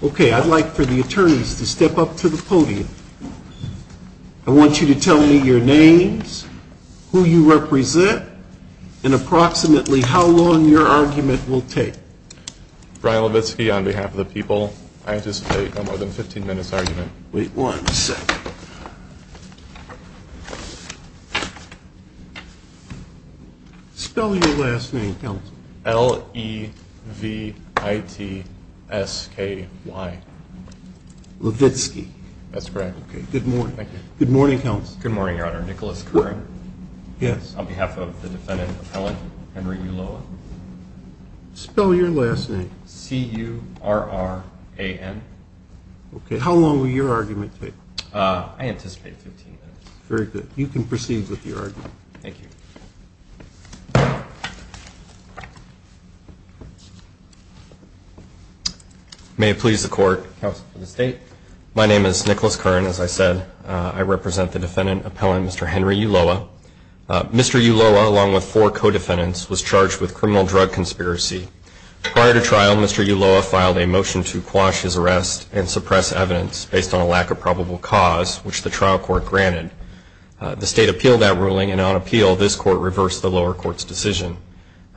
Okay, I'd like for the attorneys to step up to the podium. I want you to tell me your names, who you represent, and approximately how long your argument will take. Brian Levitsky on behalf of the people. I anticipate no more than a 15 minute argument. Wait one second. Spell your last name, counsel. L-E-V-I-T-S-K-Y Levitsky. That's correct. Good morning, counsel. Good morning, your honor. Nicholas Curran. Yes. On behalf of the defendant appellant, Henry Ulloa. Spell your last name. C-U-R-R-A-N Okay, how long will your argument take? I anticipate 15 minutes. Very good. You can proceed with your argument. Thank you. May it please the court. Counsel for the state. My name is Nicholas Curran, as I said. I represent the defendant appellant, Mr. Henry Ulloa. Mr. Ulloa, along with four co-defendants, was charged with criminal drug conspiracy. Prior to trial, Mr. Ulloa filed a motion to quash his arrest and suppress evidence based on a lack of probable cause, which the trial court granted. The state appealed that ruling, and on appeal, this court reversed the lower court's decision.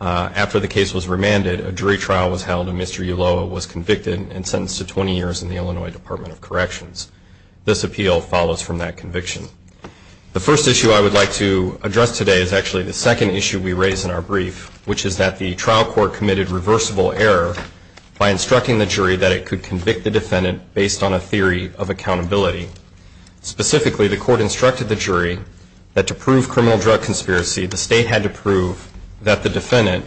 After the case was remanded, a jury trial was held, and Mr. Ulloa was convicted and sentenced to 20 years in the Illinois Department of Corrections. This appeal follows from that conviction. The first issue I would like to address today is actually the second issue we raise in our brief, which is that the trial court committed reversible error by instructing the jury that it could convict the defendant based on a theory of accountability. Specifically, the court instructed the jury that to prove criminal drug conspiracy, the state had to prove that the defendant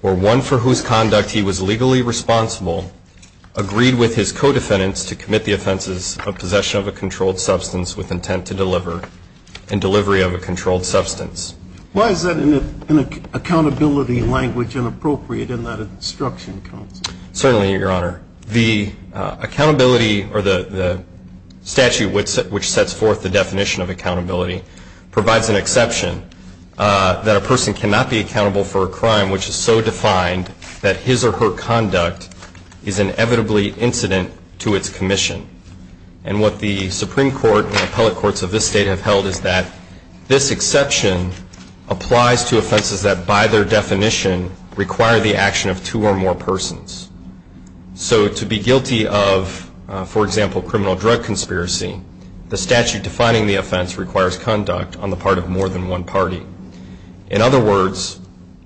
were one for whose conduct he was legally responsible, agreed with his co-defendants to commit the offenses of possession of a controlled substance with intent to deliver, and delivery of a controlled substance. Why is that an accountability language inappropriate in that instruction? Certainly, Your Honor. The accountability or the statute which sets forth the definition of accountability provides an exception that a person cannot be accountable for a crime which is so defined that his or her conduct is inevitably incident to its commission. And what the Supreme Court and appellate courts of this state have held is that this exception applies to offenses that by their definition require the action of two or more persons. So to be guilty of, for example, criminal drug conspiracy, the statute defining the offense requires conduct on the part of more than one party. In other words,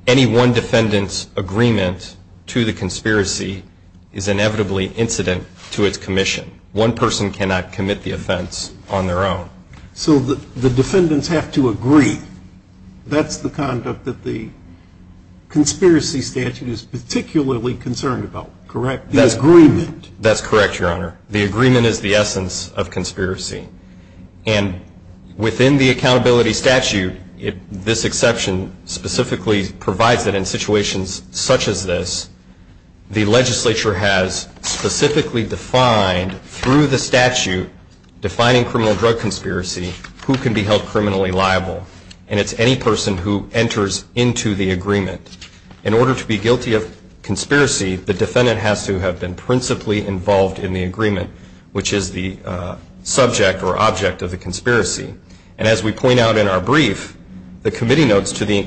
any one defendant's agreement to the conspiracy is inevitably incident to its commission. One person cannot commit the offense on their own. So the defendants have to agree. That's the conduct that the conspiracy statute is particularly concerned about, correct? The agreement. That's correct, Your Honor. The agreement is the essence of conspiracy. And within the accountability statute, this exception specifically provides that in situations such as this, the legislature has specifically defined through the statute defining criminal drug conspiracy who can be held criminally liable. And it's any person who enters into the agreement. In order to be guilty of conspiracy, the defendant has to have been principally involved in the agreement, which is the subject or object of the conspiracy. And as we point out in our brief, the committee notes to the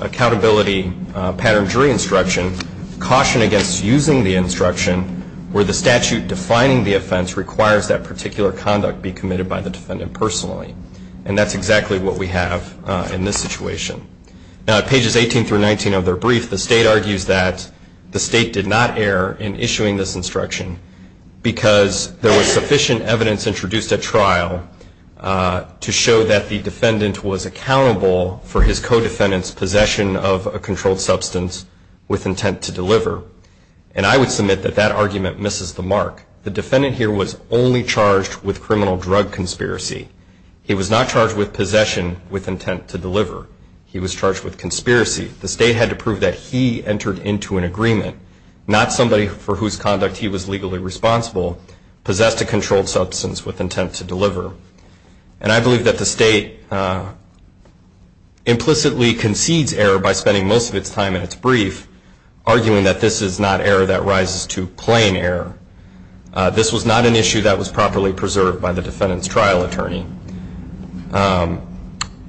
accountability pattern jury instruction caution against using the instruction where the statute defining the offense requires that particular conduct be committed by the defendant personally. And that's exactly what we have in this situation. Now, at pages 18 through 19 of their brief, the state argues that the state did not err in issuing this instruction because there was sufficient evidence introduced at trial to show that the defendant was accountable for his co-defendant's possession of a controlled substance with intent to deliver. And I would submit that that argument misses the mark. The defendant here was only charged with criminal drug conspiracy. He was not charged with possession with intent to deliver. He was charged with conspiracy. The state had to prove that he entered into an agreement, not somebody for whose conduct he was legally responsible, possessed a controlled substance with intent to deliver. And I believe that the state implicitly concedes error by spending most of its time in its brief, arguing that this is not error that rises to plain error. This was not an issue that was properly preserved by the defendant's trial attorney.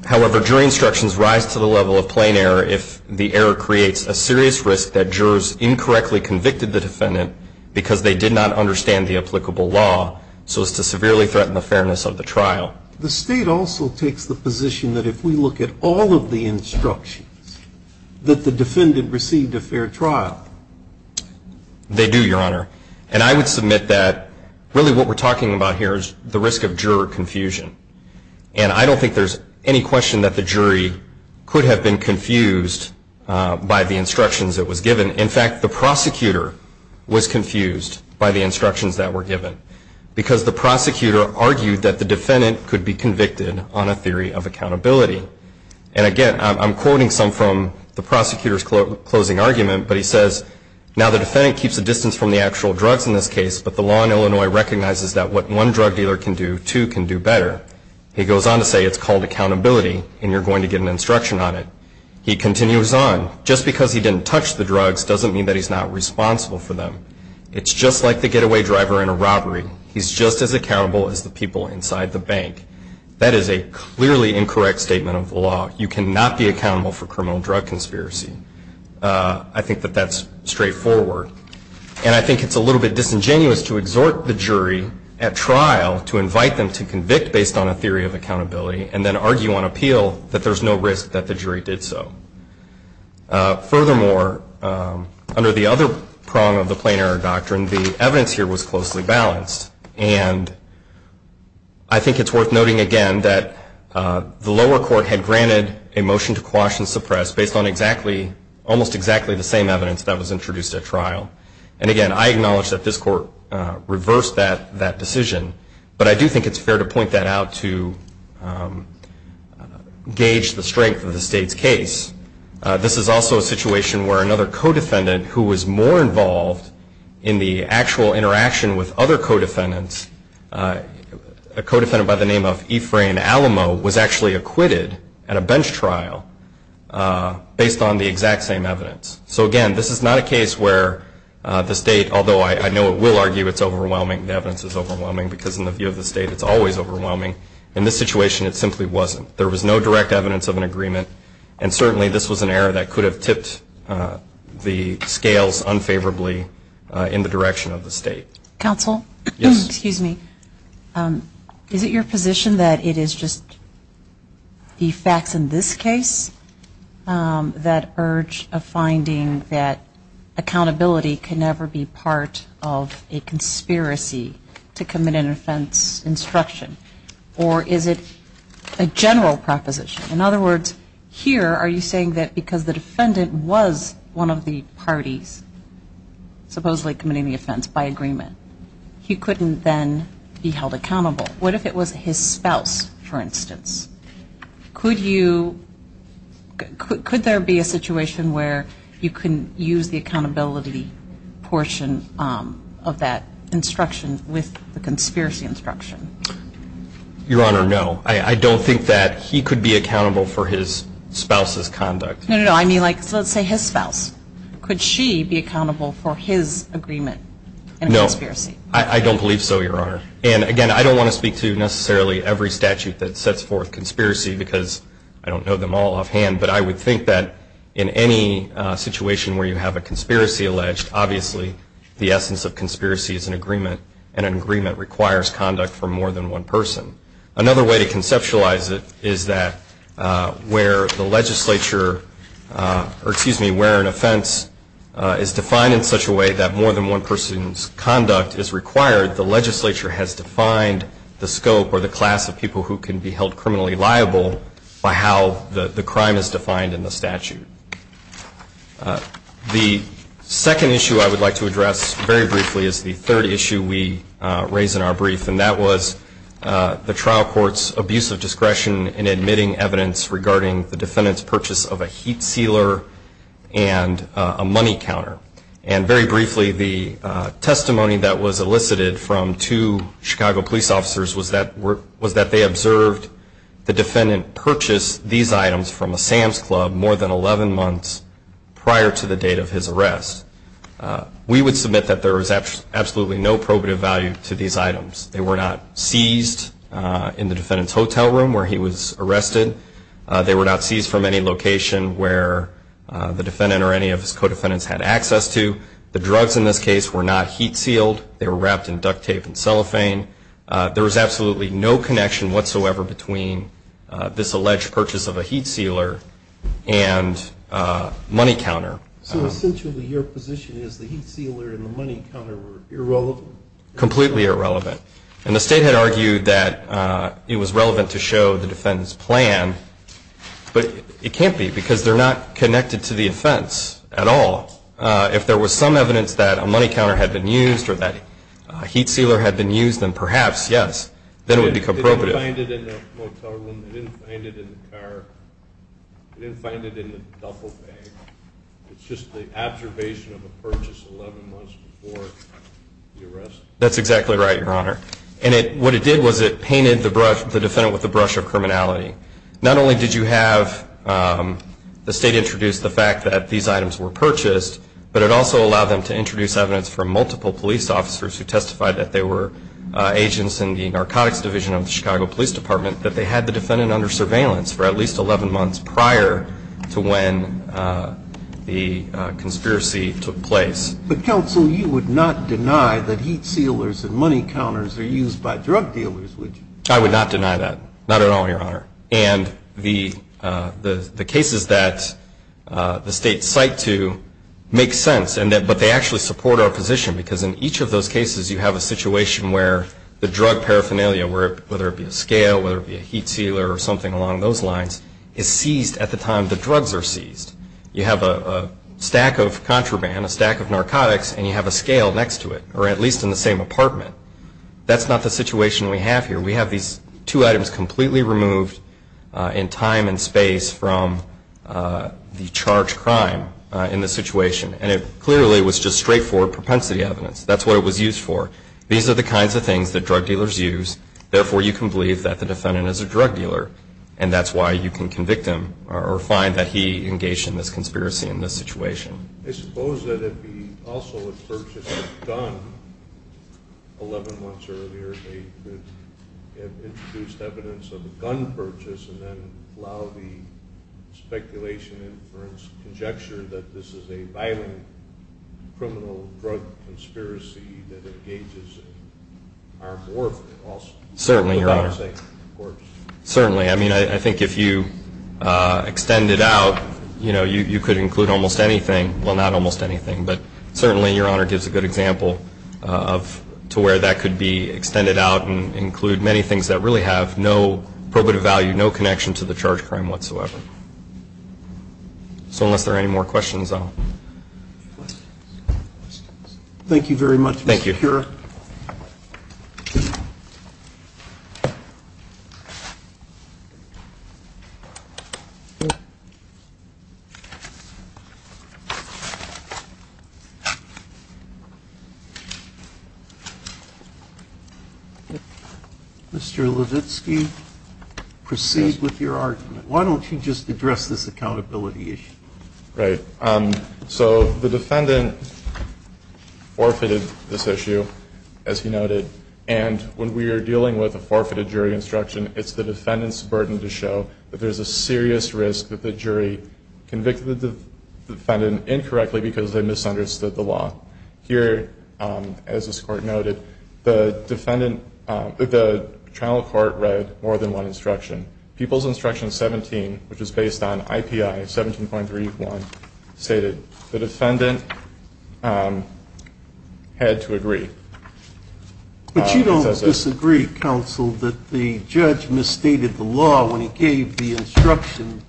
However, jury instructions rise to the level of plain error if the error creates a serious risk that jurors incorrectly convicted the defendant because they did not understand the applicable law, so as to severely threaten the fairness of the trial. The state also takes the position that if we look at all of the instructions, that the defendant received a fair trial. They do, Your Honor. And I would submit that really what we're talking about here is the risk of juror confusion. And I don't think there's any question that the jury could have been confused by the instructions that was given. In fact, the prosecutor was confused by the instructions that were given. Because the prosecutor argued that the defendant could be convicted on a theory of accountability. And again, I'm quoting some from the prosecutor's closing argument, but he says, now the defendant keeps a distance from the actual drugs in this case, but the law in Illinois recognizes that what one drug dealer can do, two can do better. He goes on to say it's called accountability, and you're going to get an instruction on it. He continues on, just because he didn't touch the drugs doesn't mean that he's not responsible for them. It's just like the getaway driver in a robbery. He's just as accountable as the people inside the bank. That is a clearly incorrect statement of the law. You cannot be accountable for criminal drug conspiracy. I think that that's straightforward. And I think it's a little bit disingenuous to exhort the jury at trial to invite them to convict based on a theory of accountability and then argue on appeal that there's no risk that the jury did so. Furthermore, under the other prong of the plain error doctrine, the evidence here was closely balanced. And I think it's worth noting again that the lower court had granted a motion to quash and suppress based on almost exactly the same evidence that was introduced at trial. And again, I acknowledge that this court reversed that decision, but I do think it's fair to point that out to gauge the strength of the state's case. This is also a situation where another co-defendant who was more involved in the actual interaction with other co-defendants, a co-defendant by the name of Ephraim Alamo, was actually acquitted at a bench trial based on the exact same evidence. So again, this is not a case where the state, although I know it will argue it's overwhelming, the evidence is overwhelming, because in the view of the state, it's always overwhelming. In this situation, it simply wasn't. There was no direct evidence of an agreement, and certainly this was an error that could have tipped the scales unfavorably in the direction of the state. Counsel? Yes. Excuse me. Is it your position that it is just the facts in this case, that urge of finding that accountability can never be part of a conspiracy to commit an offense instruction? Or is it a general proposition? In other words, here, are you saying that because the defendant was one of the parties supposedly committing the offense by agreement, he couldn't then be held accountable? What if it was his spouse, for instance? Could there be a situation where you can use the accountability portion of that instruction with the conspiracy instruction? Your Honor, no. I don't think that he could be accountable for his spouse's conduct. No, no, no. I mean, let's say his spouse. Could she be accountable for his agreement in a conspiracy? No. I don't believe so, Your Honor. And, again, I don't want to speak to necessarily every statute that sets forth conspiracy, because I don't know them all offhand. But I would think that in any situation where you have a conspiracy alleged, obviously the essence of conspiracy is an agreement, and an agreement requires conduct for more than one person. Another way to conceptualize it is that where the legislature or, excuse me, where an offense is defined in such a way that more than one person's conduct is required, the legislature has defined the scope or the class of people who can be held criminally liable by how the crime is defined in the statute. The second issue I would like to address very briefly is the third issue we raise in our brief, and that was the trial court's abuse of discretion in admitting evidence regarding the defendant's purchase of a heat sealer and a money counter. And, very briefly, the testimony that was elicited from two Chicago police officers was that they observed the defendant purchase these items from a Sam's Club more than 11 months prior to the date of his arrest. We would submit that there was absolutely no probative value to these items. They were not seized in the defendant's hotel room where he was arrested. They were not seized from any location where the defendant or any of his co-defendants had access to. The drugs in this case were not heat sealed. They were wrapped in duct tape and cellophane. There was absolutely no connection whatsoever between this alleged purchase of a heat sealer and money counter. So, essentially, your position is the heat sealer and the money counter were irrelevant? Completely irrelevant. And the state had argued that it was relevant to show the defendant's plan, but it can't be because they're not connected to the offense at all. If there was some evidence that a money counter had been used or that a heat sealer had been used, then perhaps, yes, then it would be comprobative. They didn't find it in the motel room. They didn't find it in the car. They didn't find it in the duffel bag. It's just the observation of a purchase 11 months before the arrest. That's exactly right, Your Honor. And what it did was it painted the defendant with a brush of criminality. Not only did you have the state introduce the fact that these items were purchased, but it also allowed them to introduce evidence from multiple police officers who testified that they were agents in the narcotics division of the Chicago Police Department, that they had the defendant under surveillance for at least 11 months prior to when the conspiracy took place. But, counsel, you would not deny that heat sealers and money counters are used by drug dealers, would you? I would not deny that. Not at all, Your Honor. And the cases that the state cite to make sense, but they actually support our position, because in each of those cases you have a situation where the drug paraphernalia, whether it be a scale, whether it be a heat sealer or something along those lines, is seized at the time the drugs are seized. You have a stack of contraband, a stack of narcotics, and you have a scale next to it, or at least in the same apartment. That's not the situation we have here. We have these two items completely removed in time and space from the charged crime in this situation. And it clearly was just straightforward propensity evidence. That's what it was used for. These are the kinds of things that drug dealers use. Therefore, you can believe that the defendant is a drug dealer, and that's why you can convict him or find that he engaged in this conspiracy in this situation. I suppose that it would be also a purchase of a gun. Eleven months earlier they could have introduced evidence of a gun purchase and then allow the speculation, inference, conjecture that this is a violent criminal drug conspiracy Certainly, Your Honor. Certainly. I mean, I think if you extend it out, you know, you could include almost anything. Well, not almost anything, but certainly Your Honor gives a good example of to where that could be extended out and include many things that really have no probative value, no connection to the charged crime whatsoever. So unless there are any more questions, I'll... Thank you very much, Mr. Keurer. Thank you. Thank you. Mr. Levitsky, proceed with your argument. Why don't you just address this accountability issue? Right. So the defendant forfeited this issue, as he noted, and when we are dealing with a forfeited jury instruction, it's the defendant's burden to show that there's a serious risk that the jury convicted the defendant incorrectly because they misunderstood the law. Here, as this Court noted, the trial court read more than one instruction. People's Instruction 17, which is based on IPI 17.31, stated, the defendant had to agree. But you don't disagree, counsel, that the judge misstated the law when he gave the instruction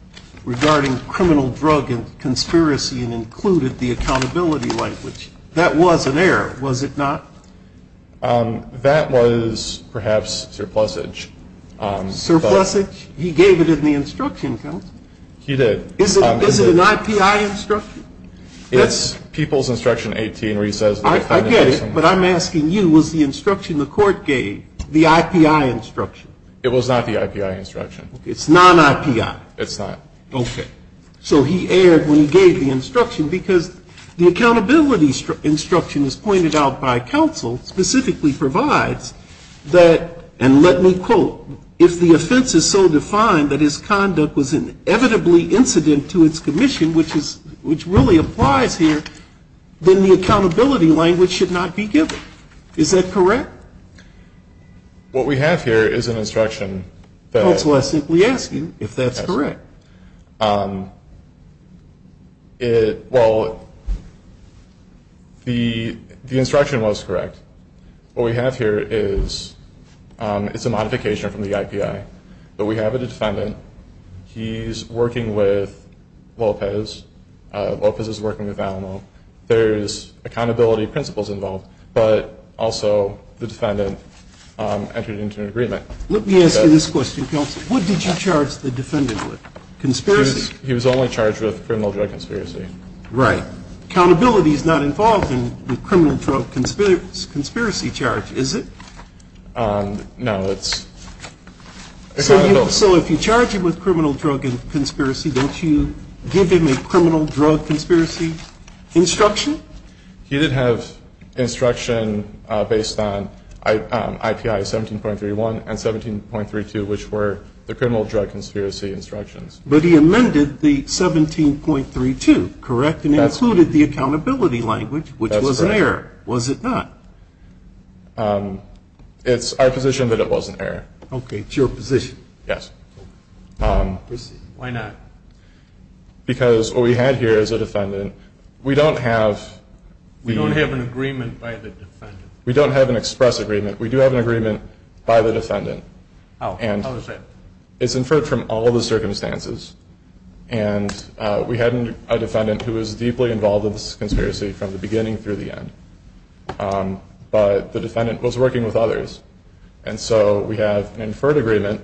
regarding criminal drug and conspiracy and included the accountability language. That was an error, was it not? That was perhaps surplusage. Surplusage? He gave it in the instruction, counsel. He did. Is it an IPI instruction? It's People's Instruction 18 where he says the defendant has to agree. I get it, but I'm asking you, was the instruction the court gave the IPI instruction? It was not the IPI instruction. It's non-IPI? It's not. Okay. So he erred when he gave the instruction because the accountability instruction as pointed out by counsel specifically provides that, and let me quote, if the offense is so defined that his conduct was inevitably incident to its commission, which really applies here, then the accountability language should not be given. Is that correct? What we have here is an instruction that — Counsel, I simply ask you if that's correct. Well, the instruction was correct. What we have here is it's a modification from the IPI, but we have a defendant. He's working with Lopez. Lopez is working with Alamo. There's accountability principles involved, but also the defendant entered into an agreement. Let me ask you this question, counsel. What did you charge the defendant with, conspiracy? He was only charged with criminal drug conspiracy. Right. Accountability is not involved in the criminal drug conspiracy charge, is it? No. So if you charge him with criminal drug conspiracy, don't you give him a criminal drug conspiracy instruction? He did have instruction based on IPI 17.31 and 17.32, which were the criminal drug conspiracy instructions. But he amended the 17.32, correct? And included the accountability language, which was an error. Was it not? It's our position that it was an error. Okay. It's your position. Yes. Why not? Because what we had here is a defendant. We don't have — We don't have an agreement by the defendant. We don't have an express agreement. We do have an agreement by the defendant. How is that? It's inferred from all of the circumstances. And we had a defendant who was deeply involved in this conspiracy from the beginning through the end. But the defendant was working with others. And so we have an inferred agreement.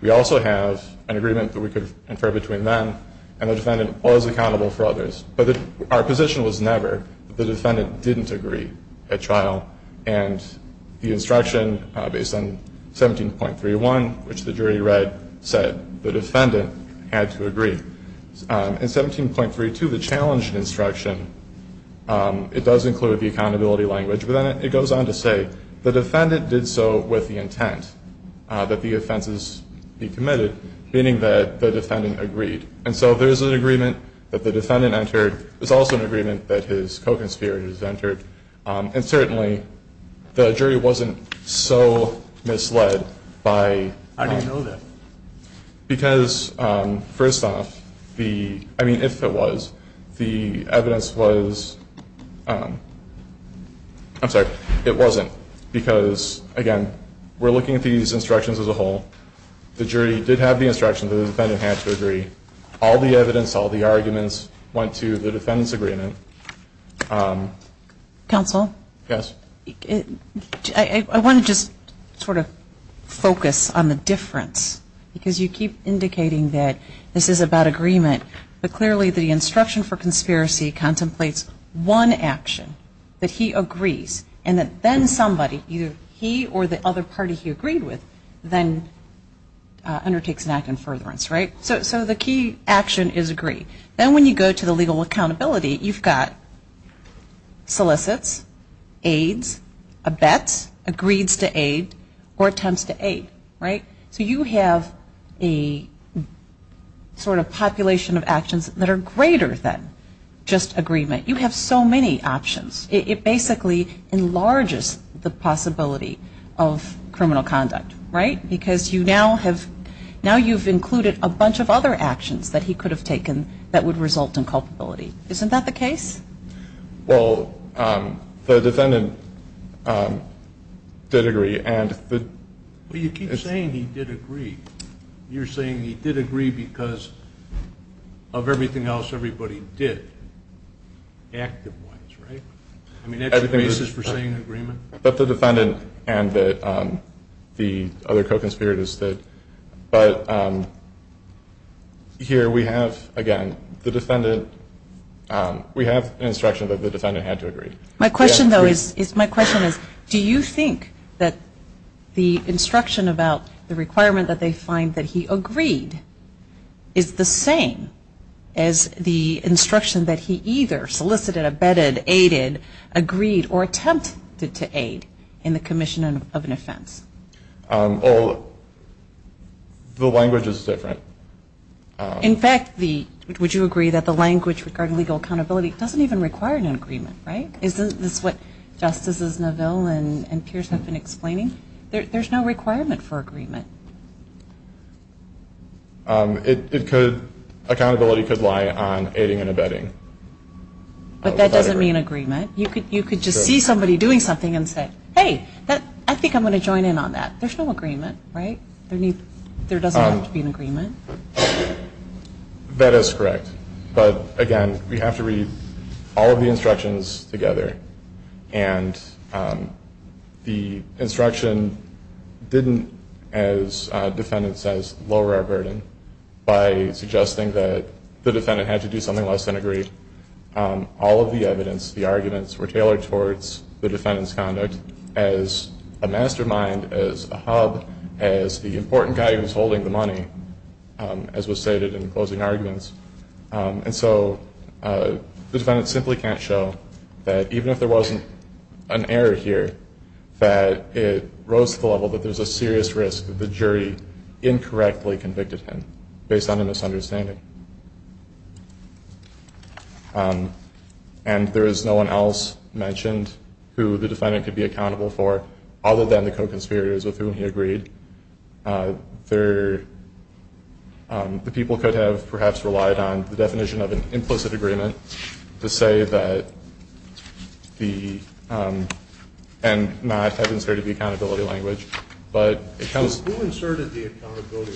We also have an agreement that we could infer between them. And the defendant was accountable for others. But our position was never that the defendant didn't agree at trial. And the instruction based on 17.31, which the jury read, said the defendant had to agree. And 17.32, the challenge instruction, it does include the accountability language. But then it goes on to say the defendant did so with the intent that the offenses be committed, meaning that the defendant agreed. And so there's an agreement that the defendant entered. There's also an agreement that his co-conspirator has entered. And certainly the jury wasn't so misled by — Because, first off, the — I mean, if it was, the evidence was — I'm sorry, it wasn't. Because, again, we're looking at these instructions as a whole. The jury did have the instruction that the defendant had to agree. All the evidence, all the arguments went to the defendant's agreement. Counsel? Yes? I want to just sort of focus on the difference. Because you keep indicating that this is about agreement. But clearly the instruction for conspiracy contemplates one action, that he agrees, and that then somebody, either he or the other party he agreed with, then undertakes an act in furtherance, right? So the key action is agree. Then when you go to the legal accountability, you've got solicits, aids, abets, agrees to aid, or attempts to aid, right? So you have a sort of population of actions that are greater than just agreement. You have so many options. It basically enlarges the possibility of criminal conduct, right? Because now you've included a bunch of other actions that he could have taken that would result in culpability. Isn't that the case? Well, the defendant did agree. Well, you keep saying he did agree. You're saying he did agree because of everything else everybody did, active ones, right? I mean, that's the basis for saying agreement? But the defendant and the other co-conspirators did. But here we have, again, the defendant. We have instruction that the defendant had to agree. My question, though, is do you think that the instruction about the requirement that they find that he agreed is the same as the instruction that he either solicited, abetted, aided, agreed, or attempted to aid in the commission of an offense? Well, the language is different. In fact, would you agree that the language regarding legal accountability doesn't even require an agreement, right? Isn't this what Justices Neville and Pierce have been explaining? There's no requirement for agreement. Accountability could lie on aiding and abetting. But that doesn't mean agreement. You could just see somebody doing something and say, hey, I think I'm going to join in on that. There's no agreement, right? There doesn't have to be an agreement. That is correct. But, again, we have to read all of the instructions together. And the instruction didn't, as the defendant says, lower our burden by suggesting that the defendant had to do something less than agree. All of the evidence, the arguments, were tailored towards the defendant's conduct as a mastermind, as a hub, as the important guy who's holding the money, as was stated in closing arguments. And so the defendant simply can't show that even if there wasn't an error here, that it rose to the level that there's a serious risk that the jury incorrectly convicted him based on a misunderstanding. And there is no one else mentioned who the defendant could be accountable for, other than the co-conspirators with whom he agreed. The people could have perhaps relied on the definition of an implicit agreement to say that the and not have inserted the accountability language. Who inserted the accountability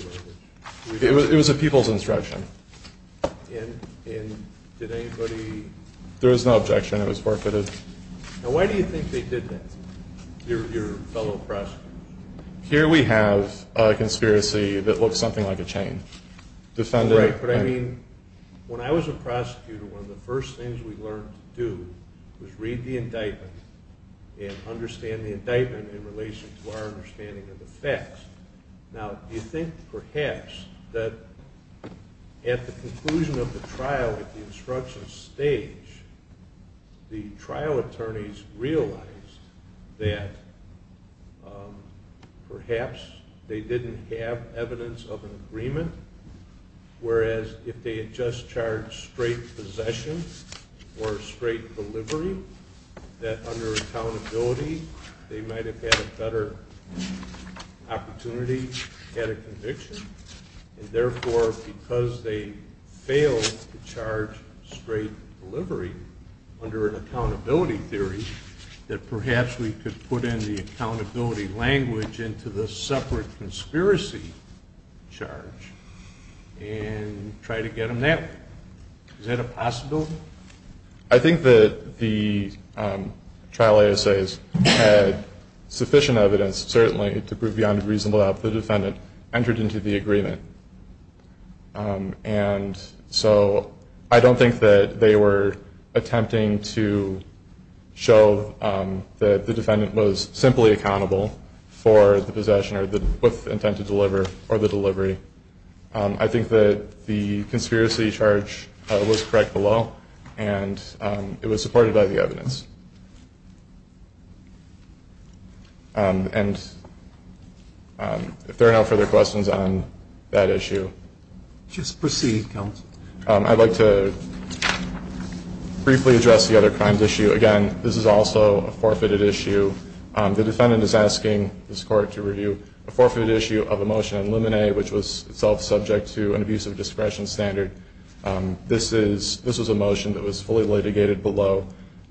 language? It was a people's instruction. And did anybody? There was no objection. It was forfeited. Now, why do you think they did that, your fellow prosecutors? Here we have a conspiracy that looks something like a chain. Right. But, I mean, when I was a prosecutor, one of the first things we learned to do was read the indictment and understand the indictment in relation to our understanding of the facts. Now, you think perhaps that at the conclusion of the trial, at the instruction stage, the trial attorneys realized that perhaps they didn't have evidence of an agreement, whereas if they had just charged straight possession or straight delivery, that under accountability they might have had a better opportunity at a conviction. And, therefore, because they failed to charge straight delivery under an accountability theory, that perhaps we could put in the accountability language into the separate conspiracy charge and try to get them that way. Is that a possibility? I think that the trial ASAs had sufficient evidence, certainly, to prove beyond a reasonable doubt that the defendant entered into the agreement. And so I don't think that they were attempting to show that the defendant was simply accountable for the possession or with intent to deliver or the delivery. I think that the conspiracy charge was correct below, and it was supported by the evidence. And if there are no further questions on that issue. Just proceed, counsel. I'd like to briefly address the other crimes issue. Again, this is also a forfeited issue. The defendant is asking this Court to review a forfeited issue of a motion on Luminae, which was itself subject to an abusive discretion standard. This was a motion that was fully litigated below.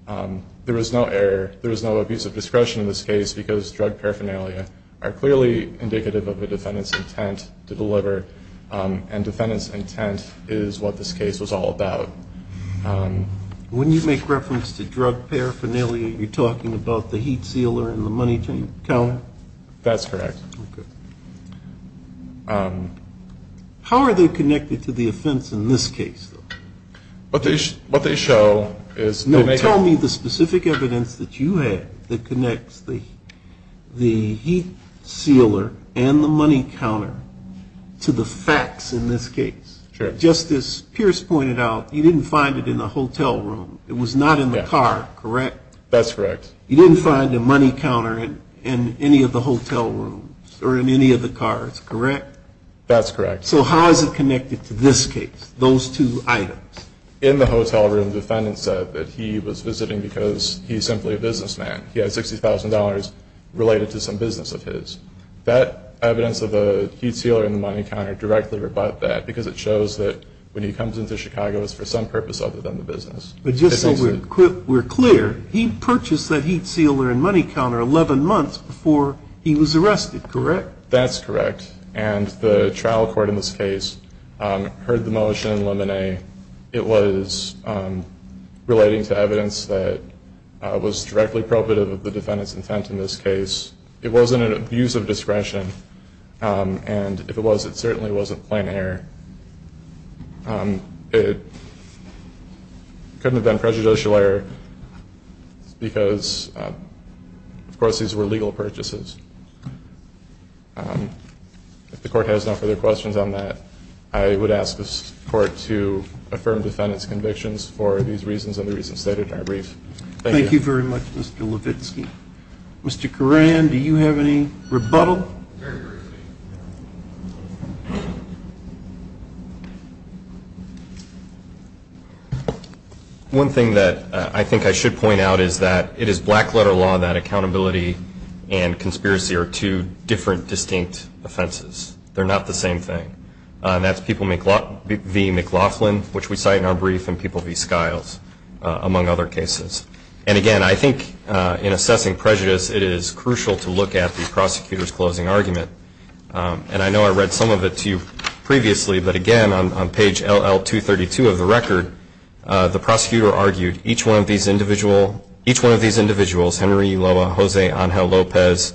There was no error. There was no abusive discretion in this case, because drug paraphernalia are clearly indicative of a defendant's intent to deliver, and defendant's intent is what this case was all about. When you make reference to drug paraphernalia, you're talking about the heat sealer and the money counter? That's correct. How are they connected to the offense in this case? What they show is they make it. No, tell me the specific evidence that you had that connects the heat sealer and the money counter to the facts in this case. Sure. Just as Pierce pointed out, you didn't find it in the hotel room. It was not in the car, correct? That's correct. You didn't find the money counter in any of the hotel rooms or in any of the cars, correct? That's correct. So how is it connected to this case? Those two items. In the hotel room, the defendant said that he was visiting because he's simply a businessman. He had $60,000 related to some business of his. That evidence of the heat sealer and the money counter directly rebut that, because it shows that when he comes into Chicago, it's for some purpose other than the business. But just so we're clear, he purchased that heat sealer and money counter 11 months before he was arrested, correct? That's correct. And the trial court in this case heard the motion in Lemonet. It was relating to evidence that was directly probative of the defendant's intent in this case. It wasn't an abuse of discretion. And if it was, it certainly wasn't plain error. It couldn't have been prejudicial error because, of course, these were legal purchases. If the court has no further questions on that, I would ask the court to affirm the defendant's convictions for these reasons and the reasons stated in our brief. Thank you. Thank you very much, Mr. Levitsky. Mr. Coran, do you have any rebuttal? Very briefly. One thing that I think I should point out is that it is black-letter law that accountability and conspiracy are two different distinct offenses. They're not the same thing. That's people v. McLaughlin, which we cite in our brief, and people v. Skiles, among other cases. And, again, I think in assessing prejudice, it is crucial to look at the prosecutor's closing argument. And I know I read some of it to you previously, but, again, on page LL232 of the record, the prosecutor argued each one of these individuals, Henry Ulloa, Jose Angel Lopez,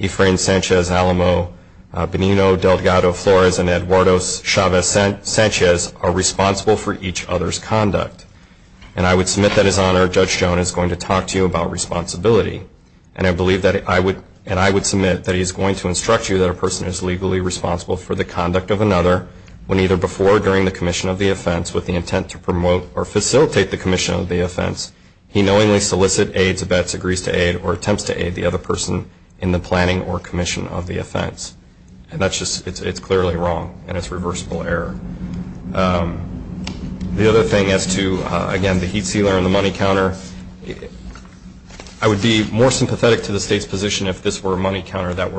Efrain Sanchez Alamo, Benino Delgado Flores, and Eduardo Chavez Sanchez, are responsible for each other's conduct. And I would submit that His Honor, Judge Jones, is going to talk to you about responsibility. And I believe that I would submit that he is going to instruct you that a person is legally responsible for the conduct of another when either before or during the commission of the offense with the intent to promote or facilitate the commission of the offense, he knowingly solicits, aids, vets, agrees to aid, or attempts to aid the other person in the planning or commission of the offense. And it's clearly wrong, and it's reversible error. The other thing as to, again, the heat sealer and the money counter, I would be more sympathetic to the State's position if this were a money counter that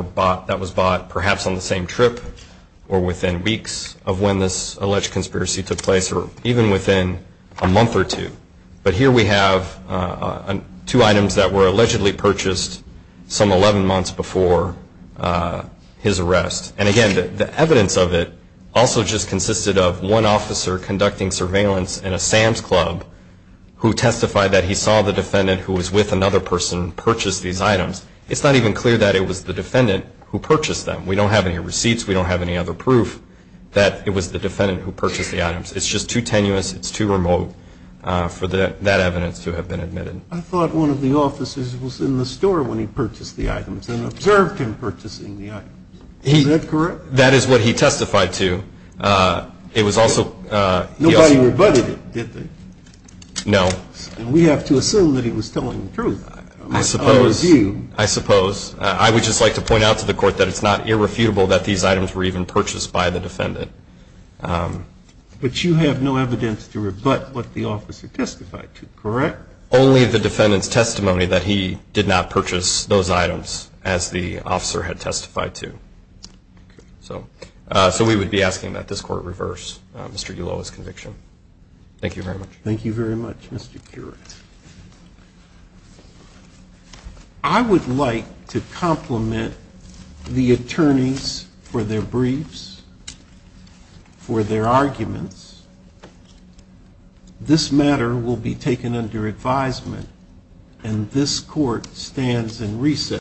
was bought perhaps on the same trip or within weeks of when this alleged conspiracy took place or even within a month or two. But here we have two items that were allegedly purchased some 11 months before his arrest. And, again, the evidence of it also just consisted of one officer conducting surveillance in a Sam's Club who testified that he saw the defendant who was with another person purchase these items. It's not even clear that it was the defendant who purchased them. We don't have any receipts. We don't have any other proof that it was the defendant who purchased the items. It's just too tenuous. It's too remote for that evidence to have been admitted. But you have no evidence to rebut what the officer testified to, correct? Only the defendant's testimony that he did not purchase those items. And we have to assume that he was telling the truth. I would just like to point out to the Court that it's not irrefutable that these items were even purchased by the defendant. But you have no evidence to rebut what the officer testified to, correct? Only the defendant's testimony that he did not purchase those items. As the officer had testified to. So we would be asking that this Court reverse Mr. Uloa's conviction. Thank you very much. Thank you very much, Mr. Burek. I would like to compliment the attorneys for their briefs, for their arguments. This matter will be taken under advisement, and this Court stands in recess.